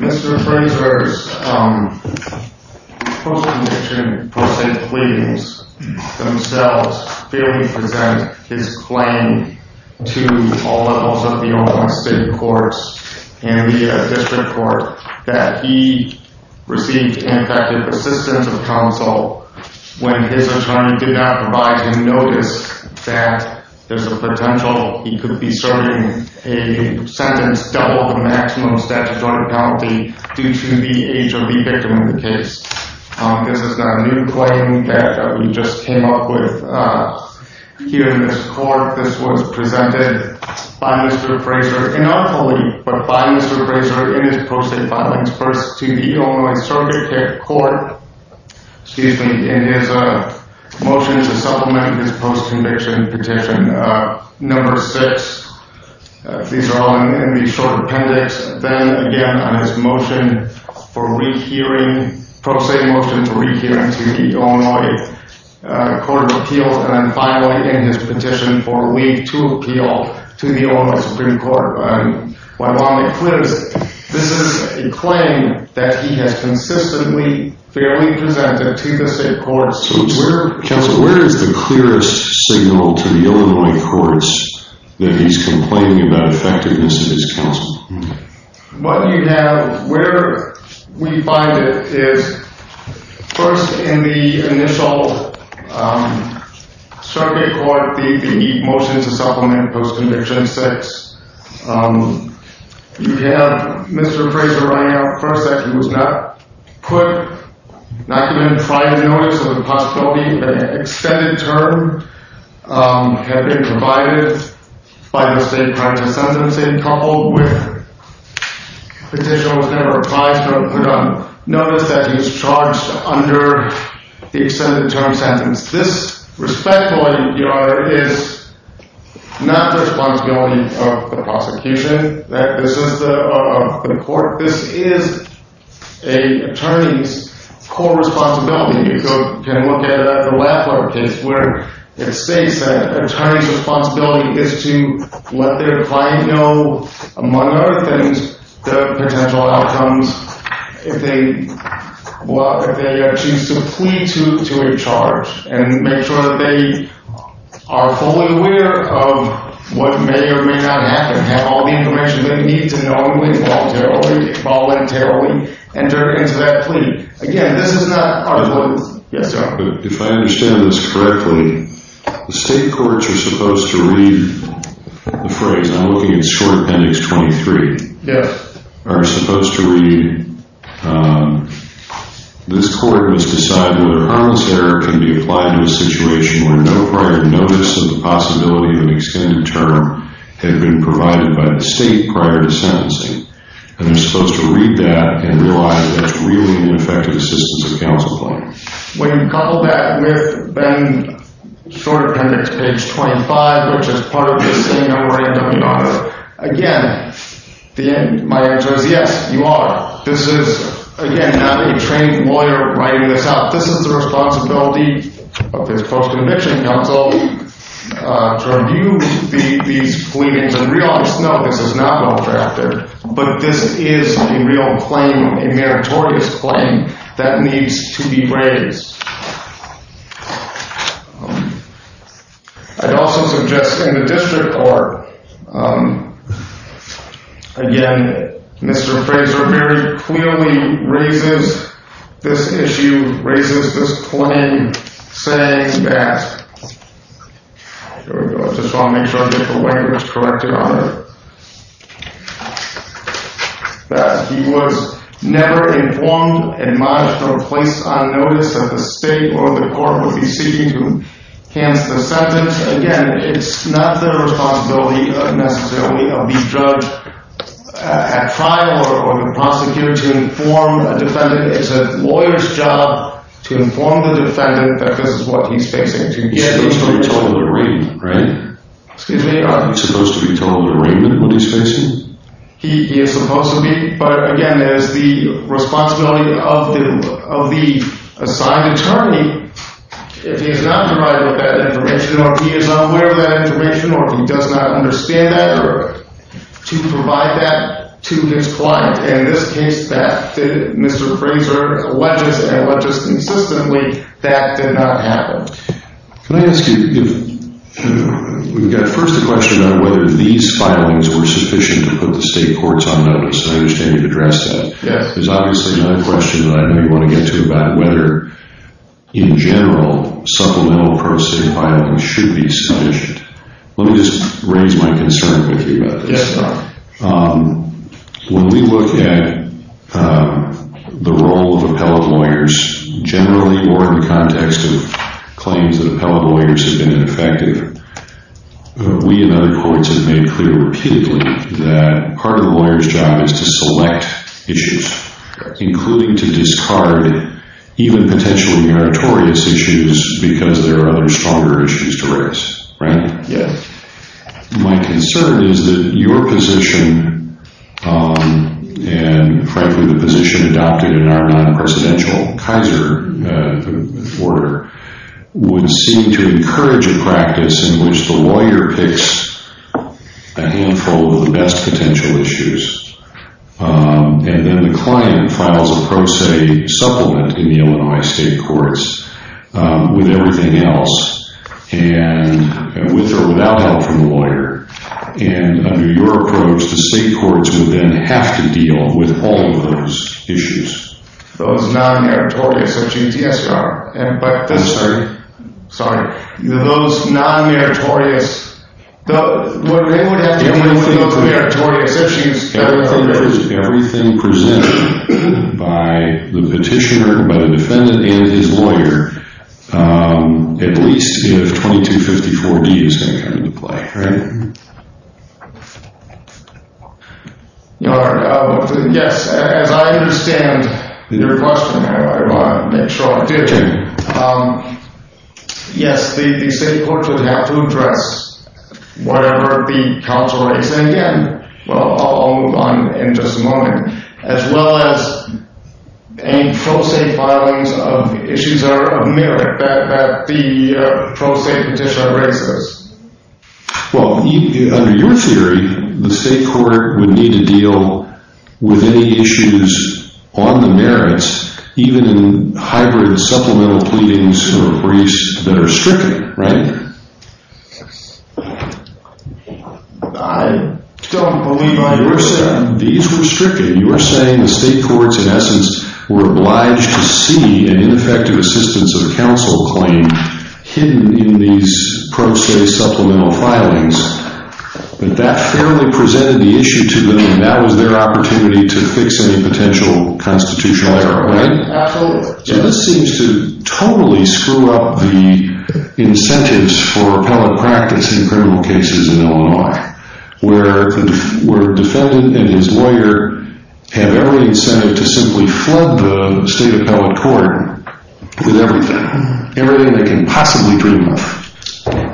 and we have the third case of Wayne Frazier v. John Varga Mr. Frazier's post-conviction proceedings themselves fairly present his claim to all levels of the Oregon State Courts and the District Court that he received ineffective assistance of counsel when his attorney did not provide him notice that there's a potential he could be serving a sentence double the maximum statute order penalty due to the age of the victim of the case. This is not a new claim that we just came up with here in this court. This was presented by Mr. Frazier, not fully, but by Mr. Frazier in his post-conviction petition. Number four, excuse me, in his motion to supplement his post-conviction petition. Number six, these are all in the short appendix. Then again on his motion for rehearing, pro se motion to rehearing to the Illinois Court of Appeals and then finally in his petition for a week to appeal to the Illinois Supreme Court. This is a claim that he has consistently fairly presented to the state courts. Counsel, where is the clearest signal to the Illinois courts that he's complaining about effectiveness of his counsel? What you have, where we find it is first in the initial circuit court, the motion to supplement post-conviction, you have Mr. Frazier running out, first that he was not put, not given prior notice of the possibility of an extended term had been provided by the state prior to sentencing, and then coupled with petition was never apprised of or done. Notice that he's charged under the extended term sentence. This respectfully, Your Honor, is not the responsibility of the prosecution. This is the, of the court. This is a attorney's core responsibility. You can look at the Lafleur case where it states that attorney's responsibility is to let their client know, among other things, the potential outcomes if they choose to plead to a charge and make sure that they are fully aware of what may or may not happen, have all the information they need to normally voluntarily enter into that plea. Again, this is not our voice. Yes, sir. If I understand this correctly, the state courts are supposed to read the phrase. I'm looking at short appendix 23. Yes. Are supposed to read, this court must decide whether harmless error can be applied to a situation where no prior notice of the possibility of an extended term had been provided by the state prior to sentencing. And they're supposed to read that and realize that it's really an ineffective assistance to the counsel plan. When you couple that with Ben's short appendix, page 25, which is part of the same memorandum, Your Honor, again, my answer is yes, you are. This is, again, not a trained lawyer writing this out. This is the responsibility of the post-conviction counsel to review these pleadings and realize, no, this is not well drafted. But this is a real claim, a meritorious claim that needs to be raised. I'd also suggest in the district court, again, Mr. Fraser very clearly raises this issue, raises this claim, saying that, here we go, just want to make sure I get the language corrected on it, that he was never informed and modestly placed on notice that the state or the court would be seeking to cancel the sentence. Again, it's not the responsibility necessarily of the judge at trial or the prosecutor to inform a defendant. It's a lawyer's job to inform the defendant that this is what he's facing. He's supposed to be told in arraignment, right? Excuse me? He's supposed to be told in arraignment what he's facing? He is supposed to be. But, again, that is the responsibility of the assigned attorney. If he is not provided with that information, or if he is unaware of that information, or if he does not understand that, or to provide that to his client. In this case, Mr. Fraser alleges, and alleges consistently, that did not happen. Can I ask you, we've got first a question on whether these filings were sufficient to put the state courts on notice. I understand you've addressed that. Yes. There's obviously another question that I know you want to get to about whether, in general, supplemental prosecuting filings should be sufficient. Let me just raise my concern with you about this. Yes, sir. When we look at the role of appellate lawyers, generally more in the context of claims that appellate lawyers have been ineffective, we in other courts have made clear repeatedly that part of the lawyer's job is to select issues, including to discard even potentially meritorious issues because there are other stronger issues to raise, right? Yes. My concern is that your position, and frankly the position adopted in our non-presidential Kaiser order, would seem to encourage a practice in which the lawyer picks a handful of the best potential issues, and then the client files a prose supplement in the Illinois state courts with everything else, and with or without help from the lawyer. And under your approach, the state courts would then have to deal with all of those issues. Those non-meritorious exceptions? Yes, sir. I'm sorry. Sorry. Those non-meritorious, what would happen with those meritorious exceptions? Everything presented by the petitioner, by the defendant, and his lawyer, at least if 2254D is going to come into play, right? Yes. As I understand your question, I want to make sure I'm clear. Okay. Yes, the state courts would have to address whatever the counsel is. And again, I'll move on in just a moment. As well as any pro se filings of issues of merit that the pro se petitioner raises. Well, under your theory, the state court would need to deal with any issues on the merits, even in hybrid supplemental pleadings or briefs that are stricter, right? Yes. I don't believe I understand. These were stricter. You were saying the state courts, in essence, were obliged to see an ineffective assistance of counsel claim hidden in these pro se supplemental filings. But that fairly presented the issue to them, and that was their opportunity to fix any potential constitutional error, right? Absolutely. This seems to totally screw up the incentives for appellate practice in criminal cases in Illinois, where the defendant and his lawyer have every incentive to simply flood the state appellate court with everything, everything they can possibly dream of.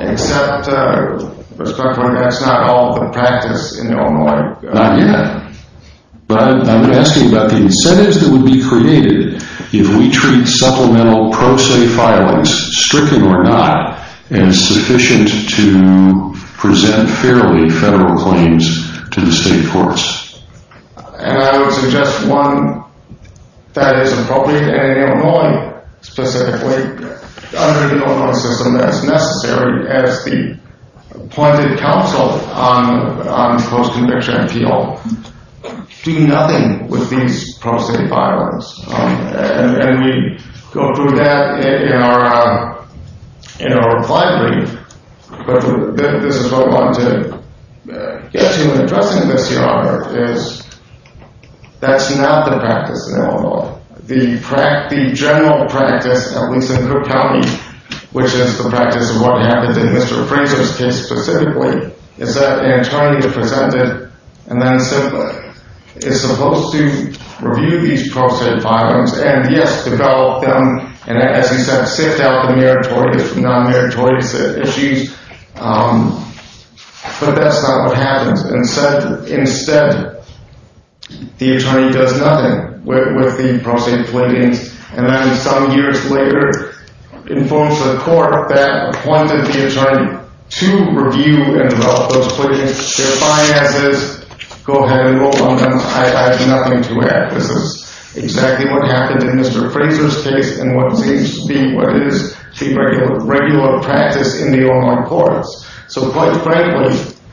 Except, that's not all of the practice in Illinois. Not yet. But I'm asking about the incentives that would be created if we treat supplemental pro se filings, stricken or not, as sufficient to present fairly federal claims to the state courts. And I would suggest one that is appropriate in Illinois, specifically, under the Illinois system, that's necessary as the appointed counsel on post-conviction appeal, do nothing with these pro se filings. And we go through that in our reply brief. But this is what I wanted to get to in addressing this here, Arthur, is that's not the practice in Illinois. The general practice, at least in Cook County, which is the practice of what happened in Mr. Fraser's case specifically, is that an attorney is presented and then simply is supposed to review these pro se filings and, yes, develop them and, as you said, sift out the meritorious and non-meritorious issues. But that's not what happens. Instead, the attorney does nothing with the pro se filings, and then some years later informs the court that appointed the attorney to review and develop those filings. They're fine as is. Go ahead and vote on them. I have nothing to add. This is exactly what happened in Mr. Fraser's case and what seems to be what is the regular practice in the Illinois courts. So, quite frankly, yes,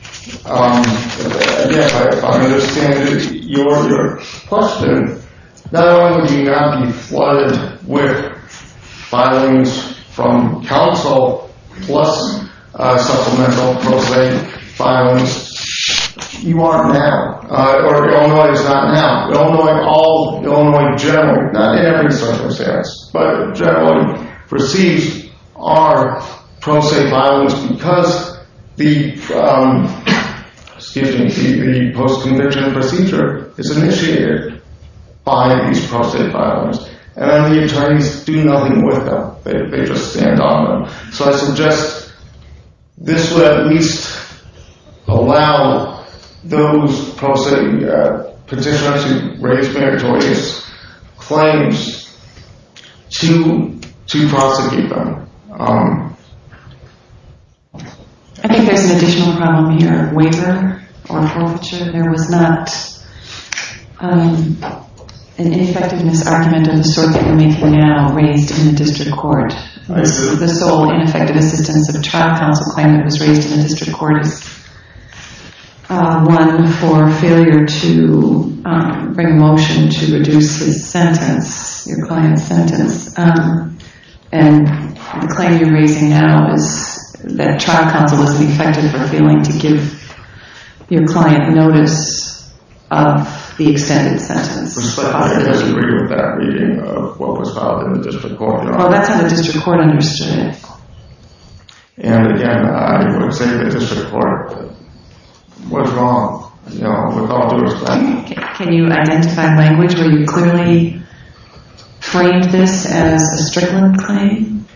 I understand your question. Not only would you not be flooded with filings from counsel plus supplemental pro se filings, you are now, or Illinois is not now. Illinois generally, not in every circumstance, but generally receives our pro se filings because the post-conviction procedure is initiated by these pro se filings, and then the attorneys do nothing with them. They just stand on them. So I suggest this would at least allow those pro se petitioners who raise meritorious claims to prosecute them. I think there's an additional problem here. Waiver or forfeiture. There was not an ineffectiveness argument of the sort that we're making now raised in the district court. This is the sole ineffective assistance of a trial counsel claim that was raised in the district court. One for failure to bring a motion to reduce the sentence, your client's sentence, and the claim you're raising now is that trial counsel is ineffective for failing to give your client notice of the extended sentence. I disagree with that reading of what was filed in the district court. Well, that's how the district court understood it. And again, I would say to the district court, what's wrong? You know, with all due respect. Can you identify language where you clearly framed this as a strickland claim?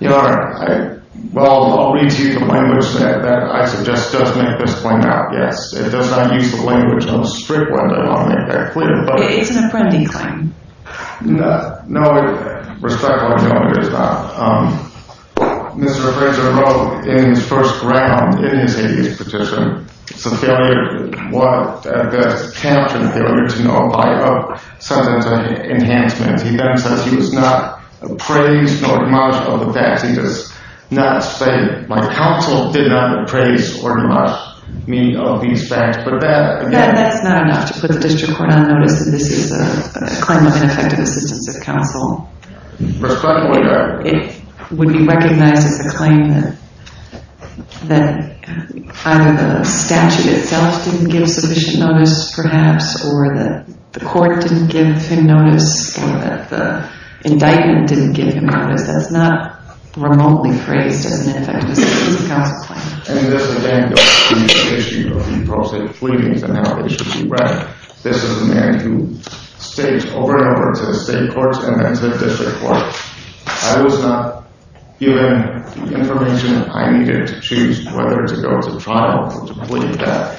Your Honor, well, I'll read to you the language that I suggest does make this claim out, yes. It does not use the language of a strickland, I want to make that clear. It's an apprendee claim. No, respectfully, no, it is not. Mr. Granger wrote in his first round, in his Hades petition, it's a counter-failure to apply a sentence enhancement. He then says he was not appraised nor admonished of the facts. He does not say my counsel did not appraise or admonish me of these facts. That's not enough to put the district court on notice that this is a claim of ineffective assistance of counsel. It would be recognized as a claim that either the statute itself didn't give sufficient notice, perhaps, or that the court didn't give him notice, or that the indictment didn't give him notice. That's not remotely phrased as an ineffective assistance of counsel claim. And this again goes to the issue of the pro se pleadings and how they should be read. This is a man who states over and over to the state court and then to the district court, I was not given the information I needed to choose whether to go to trial or to plead death.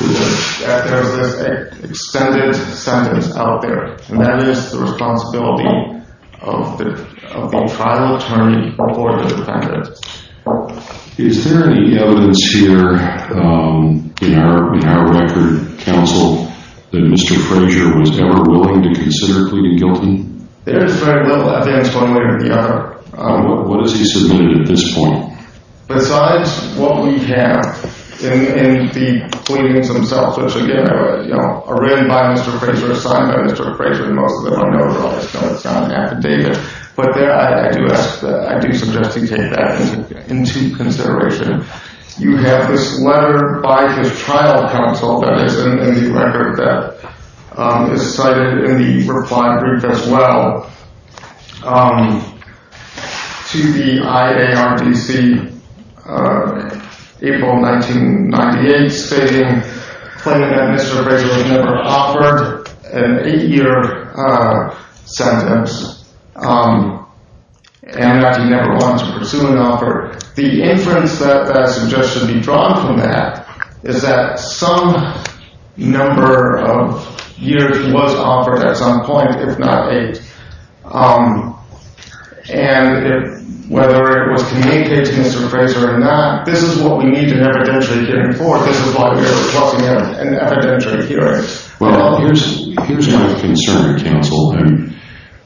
There's this extended sentence out there, and that is the responsibility of the trial attorney or the defendant. Is there any evidence here in our record, counsel, that Mr. Frazier was ever willing to consider pleading guilty? There is very little evidence one way or the other. What has he submitted at this point? Besides what we have in the pleadings themselves, which again are written by Mr. Frazier, and most of them are known as John F. Davis, but I do suggest he take that into consideration. You have this letter by his trial counsel that is in the record that is cited in the reply brief as well to the IARDC April 1998 stating, claiming that Mr. Frazier was never offered an eight-year sentence and that he never wanted to pursue an offer. The inference that I suggest should be drawn from that is that some number of years he was offered at some point, if not eight, and whether it was communicated to Mr. Frazier or not, this is what we need an evidentiary hearing for. This is why we are requesting an evidentiary hearing. Well, here's my concern, counsel.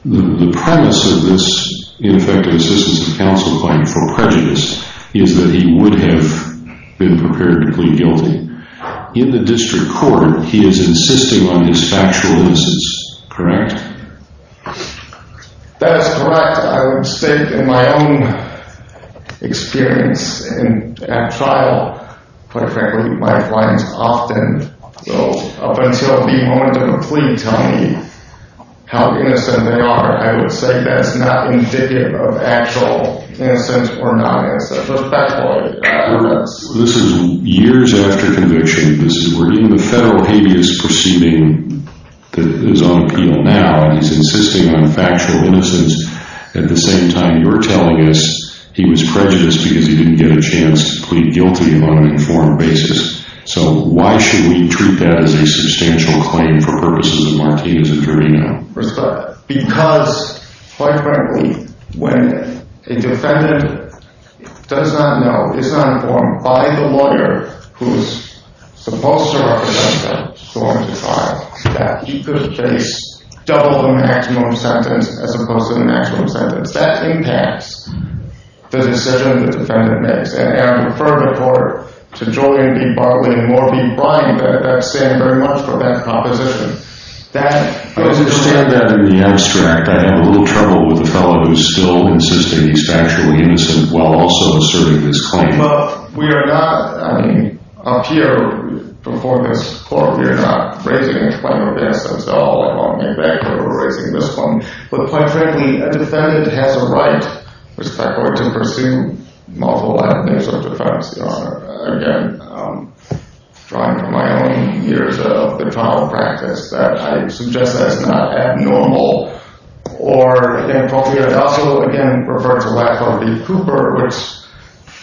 The premise of this, in effect, assistance to counsel claim for prejudice is that he would have been prepared to plead guilty. In the district court, he is insisting on his factual innocence, correct? That is correct. I would say, in my own experience at trial, quite frankly, my clients often, up until the moment of the plea, tell me how innocent they are. I would say that's not indicative of actual innocence or not innocence. This is years after conviction. This is where even the federal habeas proceeding is on appeal now. He's insisting on factual innocence. At the same time, you're telling us he was prejudiced because he didn't get a chance to plead guilty on an informed basis. So why should we treat that as a substantial claim for purposes of Martinez and Carino? Because, quite frankly, when a defendant does not know, is not informed by the lawyer who is supposed to represent them going to trial, that he could face double the maximum sentence as opposed to the maximum sentence. That impacts the decision the defendant makes. And I would refer the court to Julian B. Bartley and Morby Bryant that stand very much for that proposition. I understand that in the abstract. I have a little trouble with the fellow who's still insisting he's factually innocent while also asserting this claim. Look, we are not, I mean, up here before this court, we are not raising a claim of innocence at all. I won't get back to raising this claim. But quite frankly, a defendant has a right, respectfully, to pursue multiple avenues of defense. Again, drawing from my own years of the trial practice, that I suggest that's not abnormal. Or, again, I'd also, again, refer to Lappler v. Cooper, which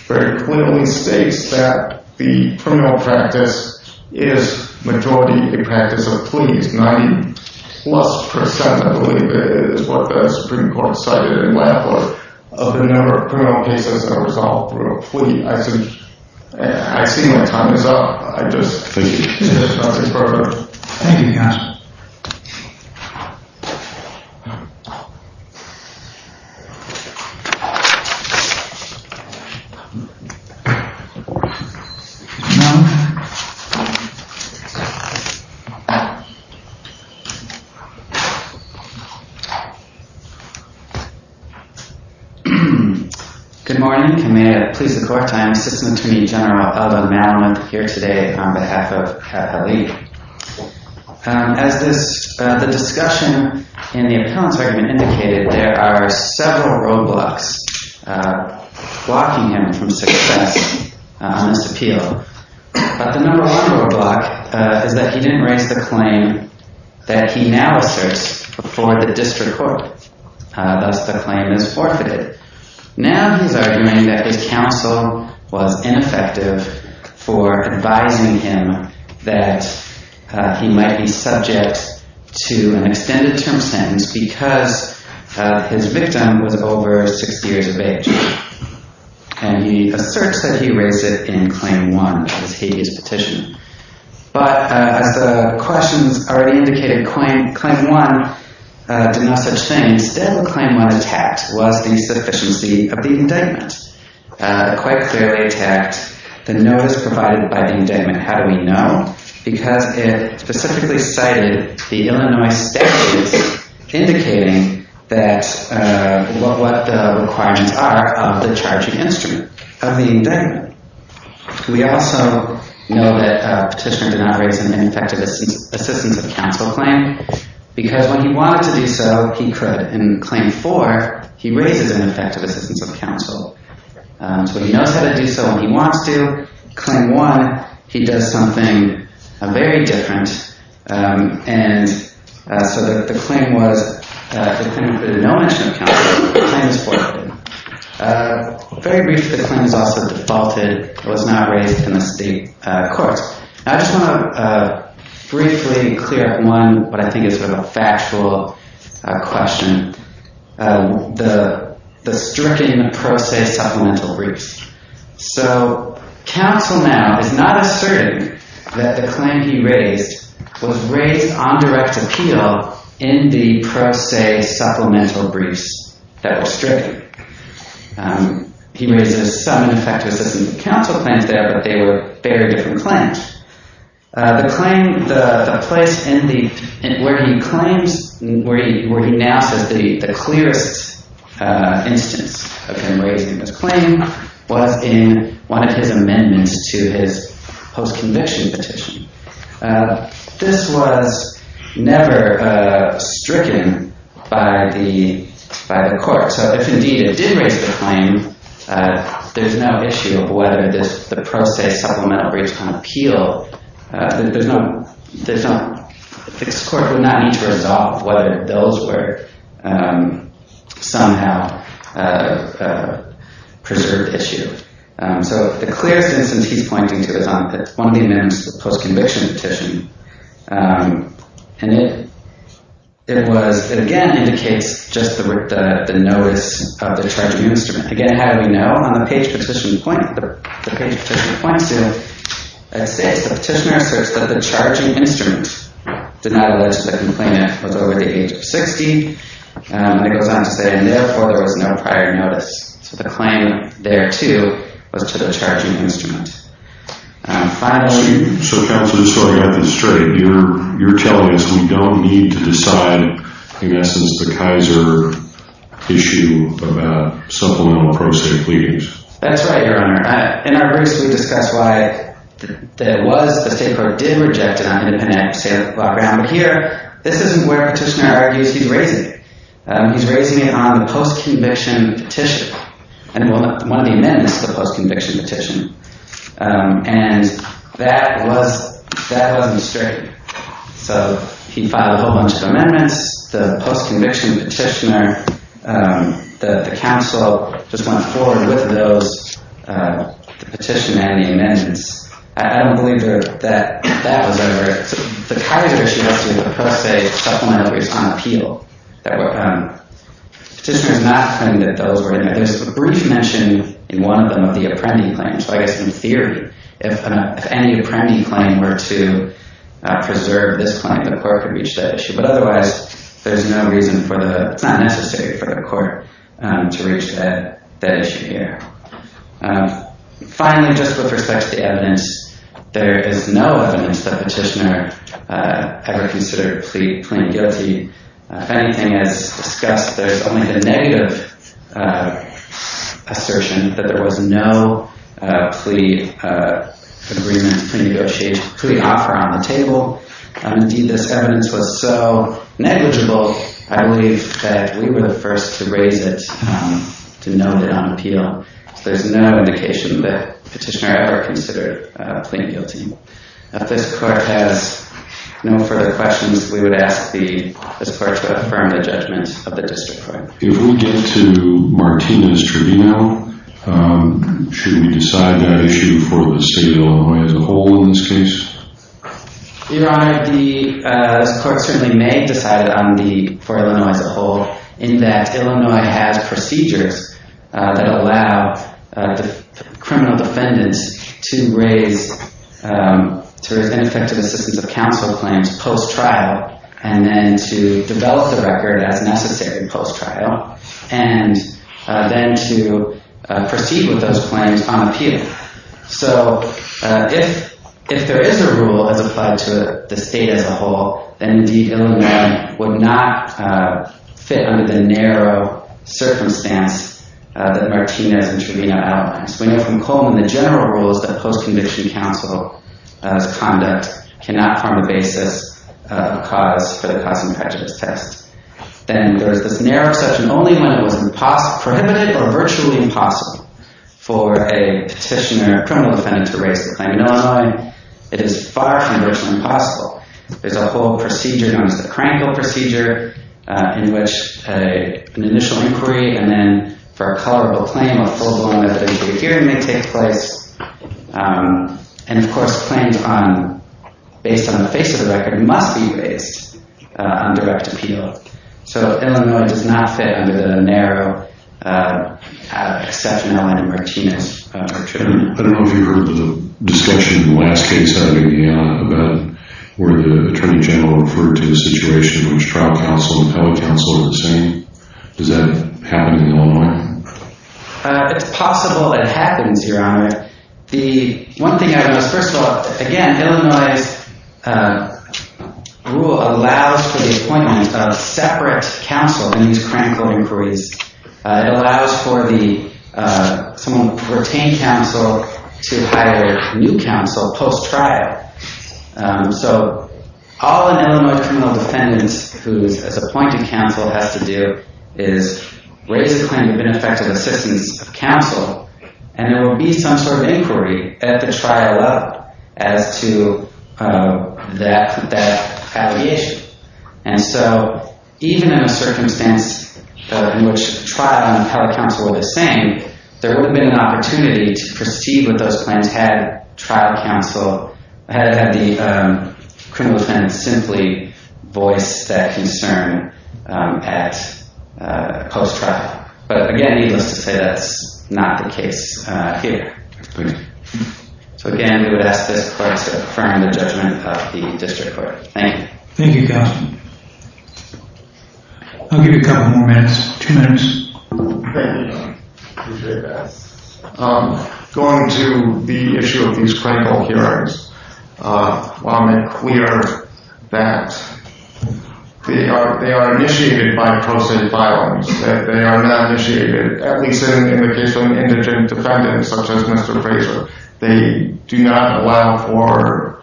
very clearly states that the criminal practice is, majority, a practice of pleas, 90-plus percent, I believe, is what the Supreme Court cited in Lappler, of the number of criminal cases that are resolved through a plea. I see my time is up. I just think it's not the appropriate time. Thank you. Good morning. May it please the court, I am Assistant Attorney General Eldon Madelon, here today on behalf of Catholic. As the discussion in the appellant's argument indicated, there are several roadblocks blocking him from success on this appeal. But the number one roadblock is that he didn't raise the claim that he now asserts before the district court. Thus, the claim is forfeited. Now, he's arguing that his counsel was ineffective for advising him that he might be subject to an extended term sentence because his victim was over six years of age. And he asserts that he raised it in Claim 1, which is his petition. But as the questions already indicated, Claim 1 did no such thing. Instead, Claim 1 attacked was the sufficiency of the indictment. It quite clearly attacked the notice provided by the indictment. How do we know? Because it specifically cited the Illinois statute indicating what the requirements are of the charging instrument of the indictment. We also know that Petitioner did not raise an ineffective assistance of counsel claim because when he wanted to do so, he could. In Claim 4, he raises an ineffective assistance of counsel. So he knows how to do so when he wants to. In Claim 1, he does something very different. And so the claim was that the claim included no mention of counsel. The claim is forfeited. Very briefly, the claim is also defaulted. It was not raised in the state courts. I just want to briefly clear up one what I think is a factual question, the stricken pro se supplemental briefs. So counsel now is not asserting that the claim he raised was raised on direct appeal in the pro se supplemental briefs that were stricken. He raises some ineffective assistance of counsel claims there, but they were very different claims. The place where he now says the clearest instance of him raising this claim was in one of his amendments to his post-conviction petition. This was never stricken by the court. So if, indeed, it did raise the claim, there's no issue of whether the pro se supplemental briefs on appeal. The court would not need to resolve whether those were somehow preserved issue. So the clearest instance he's pointing to is on one of the amendments to the post-conviction petition. And it, again, indicates just the notice of the charging instrument. Again, how do we know? On the page the petitioner points to, it says the petitioner asserts that the charging instrument did not allege that the complainant was over the age of 60. And it goes on to say, and therefore, there was no prior notice. So the claim there, too, was to the charging instrument. So, Counsel, just so I got this straight, you're telling us we don't need to decide, in essence, the Kaiser issue about supplemental pro se briefs? That's right, Your Honor. In our briefs, we discuss why it was the state court did reject it on independent, say, law ground. But here, this isn't where the petitioner argues he's raising it. He's raising it on the post-conviction petition and one of the amendments to the post-conviction petition. And that wasn't straight. So he filed a whole bunch of amendments. The post-conviction petitioner, the counsel, just went forward with those petition and the amendments. I don't believe that that was over. The Kaiser issue has to do with pro se supplementaries on appeal. The petitioner is not claiming that those were in there. There's a brief mention in one of them of the Apprendi claim. So I guess in theory, if any Apprendi claim were to preserve this claim, the court could reach that issue. But otherwise, there's no reason for the—it's not necessary for the court to reach that issue here. Finally, just with respect to the evidence, there is no evidence the petitioner ever considered plain guilty. If anything, as discussed, there's only the negative assertion that there was no plea agreement, plea offer on the table. Indeed, this evidence was so negligible, I believe that we were the first to raise it, to note it on appeal. So there's no indication that the petitioner ever considered plain guilty. If this court has no further questions, we would ask this court to affirm the judgment of the district court. If we get to Martinez Tribunal, should we decide that issue for the state of Illinois as a whole in this case? Your Honor, the court certainly may have decided on the—for Illinois as a whole, in that Illinois has procedures that allow criminal defendants to raise ineffective assistance of counsel claims post-trial and then to develop the record as necessary post-trial and then to proceed with those claims on appeal. So if there is a rule as applied to the state as a whole, then indeed Illinois would not fit under the narrow circumstance that Martinez Tribunal outlines. We know from Coleman the general rules that post-conviction counsel's conduct cannot form the basis of cause for the cause and prejudice test. Then there's this narrow exception only when it was prohibited or virtually impossible for a petitioner, a criminal defendant, to raise the claim in Illinois. It is far from virtually impossible. There's a whole procedure known as the Krankel procedure in which an initial inquiry and then for a colorable claim, a full-blown evidence-based hearing may take place. And, of course, claims based on the face of the record must be raised on direct appeal. So Illinois does not fit under the narrow exception outlined in Martinez Tribunal. I don't know if you heard the discussion in the last case I made about where the Attorney General referred to a situation in which trial counsel and appellate counsel are the same. Does that happen in Illinois? It's possible it happens, Your Honor. The one thing I know is, first of all, again, Illinois' rule allows for the appointment of separate counsel in these Krankel inquiries. It allows for someone who retained counsel to hire a new counsel post-trial. So all an Illinois criminal defendant who is appointed counsel has to do is raise a claim of ineffective assistance of counsel, and there will be some sort of inquiry at the trial level as to that affiliation. And so even in a circumstance in which trial and appellate counsel are the same, there would have been an opportunity to proceed with those claims had trial counsel, had the criminal defendant simply voiced that concern at post-trial. But, again, needless to say, that's not the case here. So, again, we would ask this Court to affirm the judgment of the district court. Thank you. Thank you, counsel. I'll give you a couple more minutes. Two minutes. Thank you, Your Honor. Appreciate that. Going to the issue of these Krankel hearings, I'll make clear that they are initiated by pro se violence. They are not initiated, at least in the case of an indigent defendant such as Mr. Fraser. They do not allow for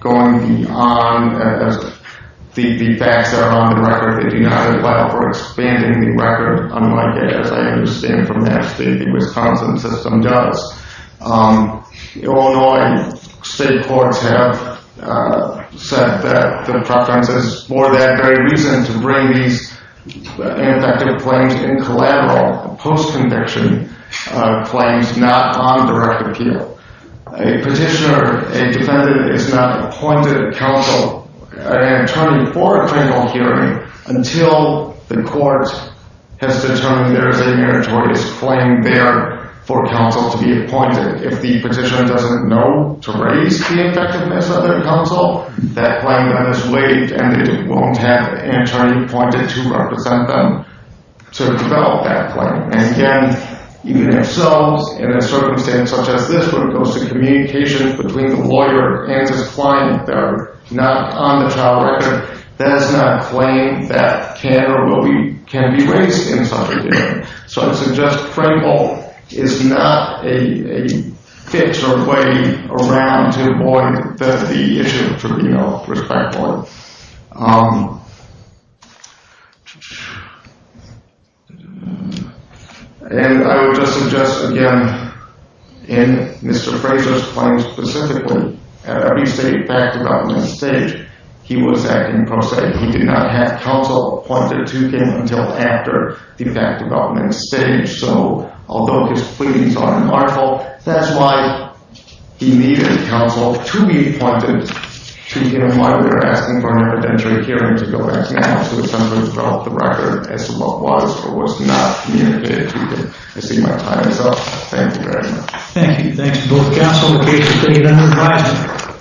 going beyond the facts that are on the record. They do not allow for expanding the record, unlike, as I understand from that state, the Wisconsin system does. Illinois state courts have said that the preference is for that very reason to bring these ineffective claims in collateral, post-conviction claims, not on direct appeal. A petitioner, a defendant, is not appointed counsel, an attorney, for a criminal hearing until the court has determined there is a meritorious claim there for counsel to be appointed. If the petitioner doesn't know to raise the effectiveness of their counsel, that claim then is waived and it won't have an attorney appointed to represent them to develop that claim. And again, even if so, in a circumstance such as this where it goes to communication between the lawyer and his client that are not on the trial record, that is not a claim that can or will be raised in such a hearing. So I would suggest Krankel is not a fix or a way around to avoid the issue of criminal respect law. And I would just suggest again, in Mr. Fraser's claim specifically, at every state fact-development stage, he was acting pro se. He did not have counsel appointed to him until after the fact-development stage. So although his pleadings are remarkable, that's why he needed counsel to be appointed to identify whether they were asking for an evidentiary hearing to go back to the house to attempt to develop the record as to what was or was not communicated to him. I see my time is up. Thank you very much. Thank you. Thanks to both counsel and the case committee.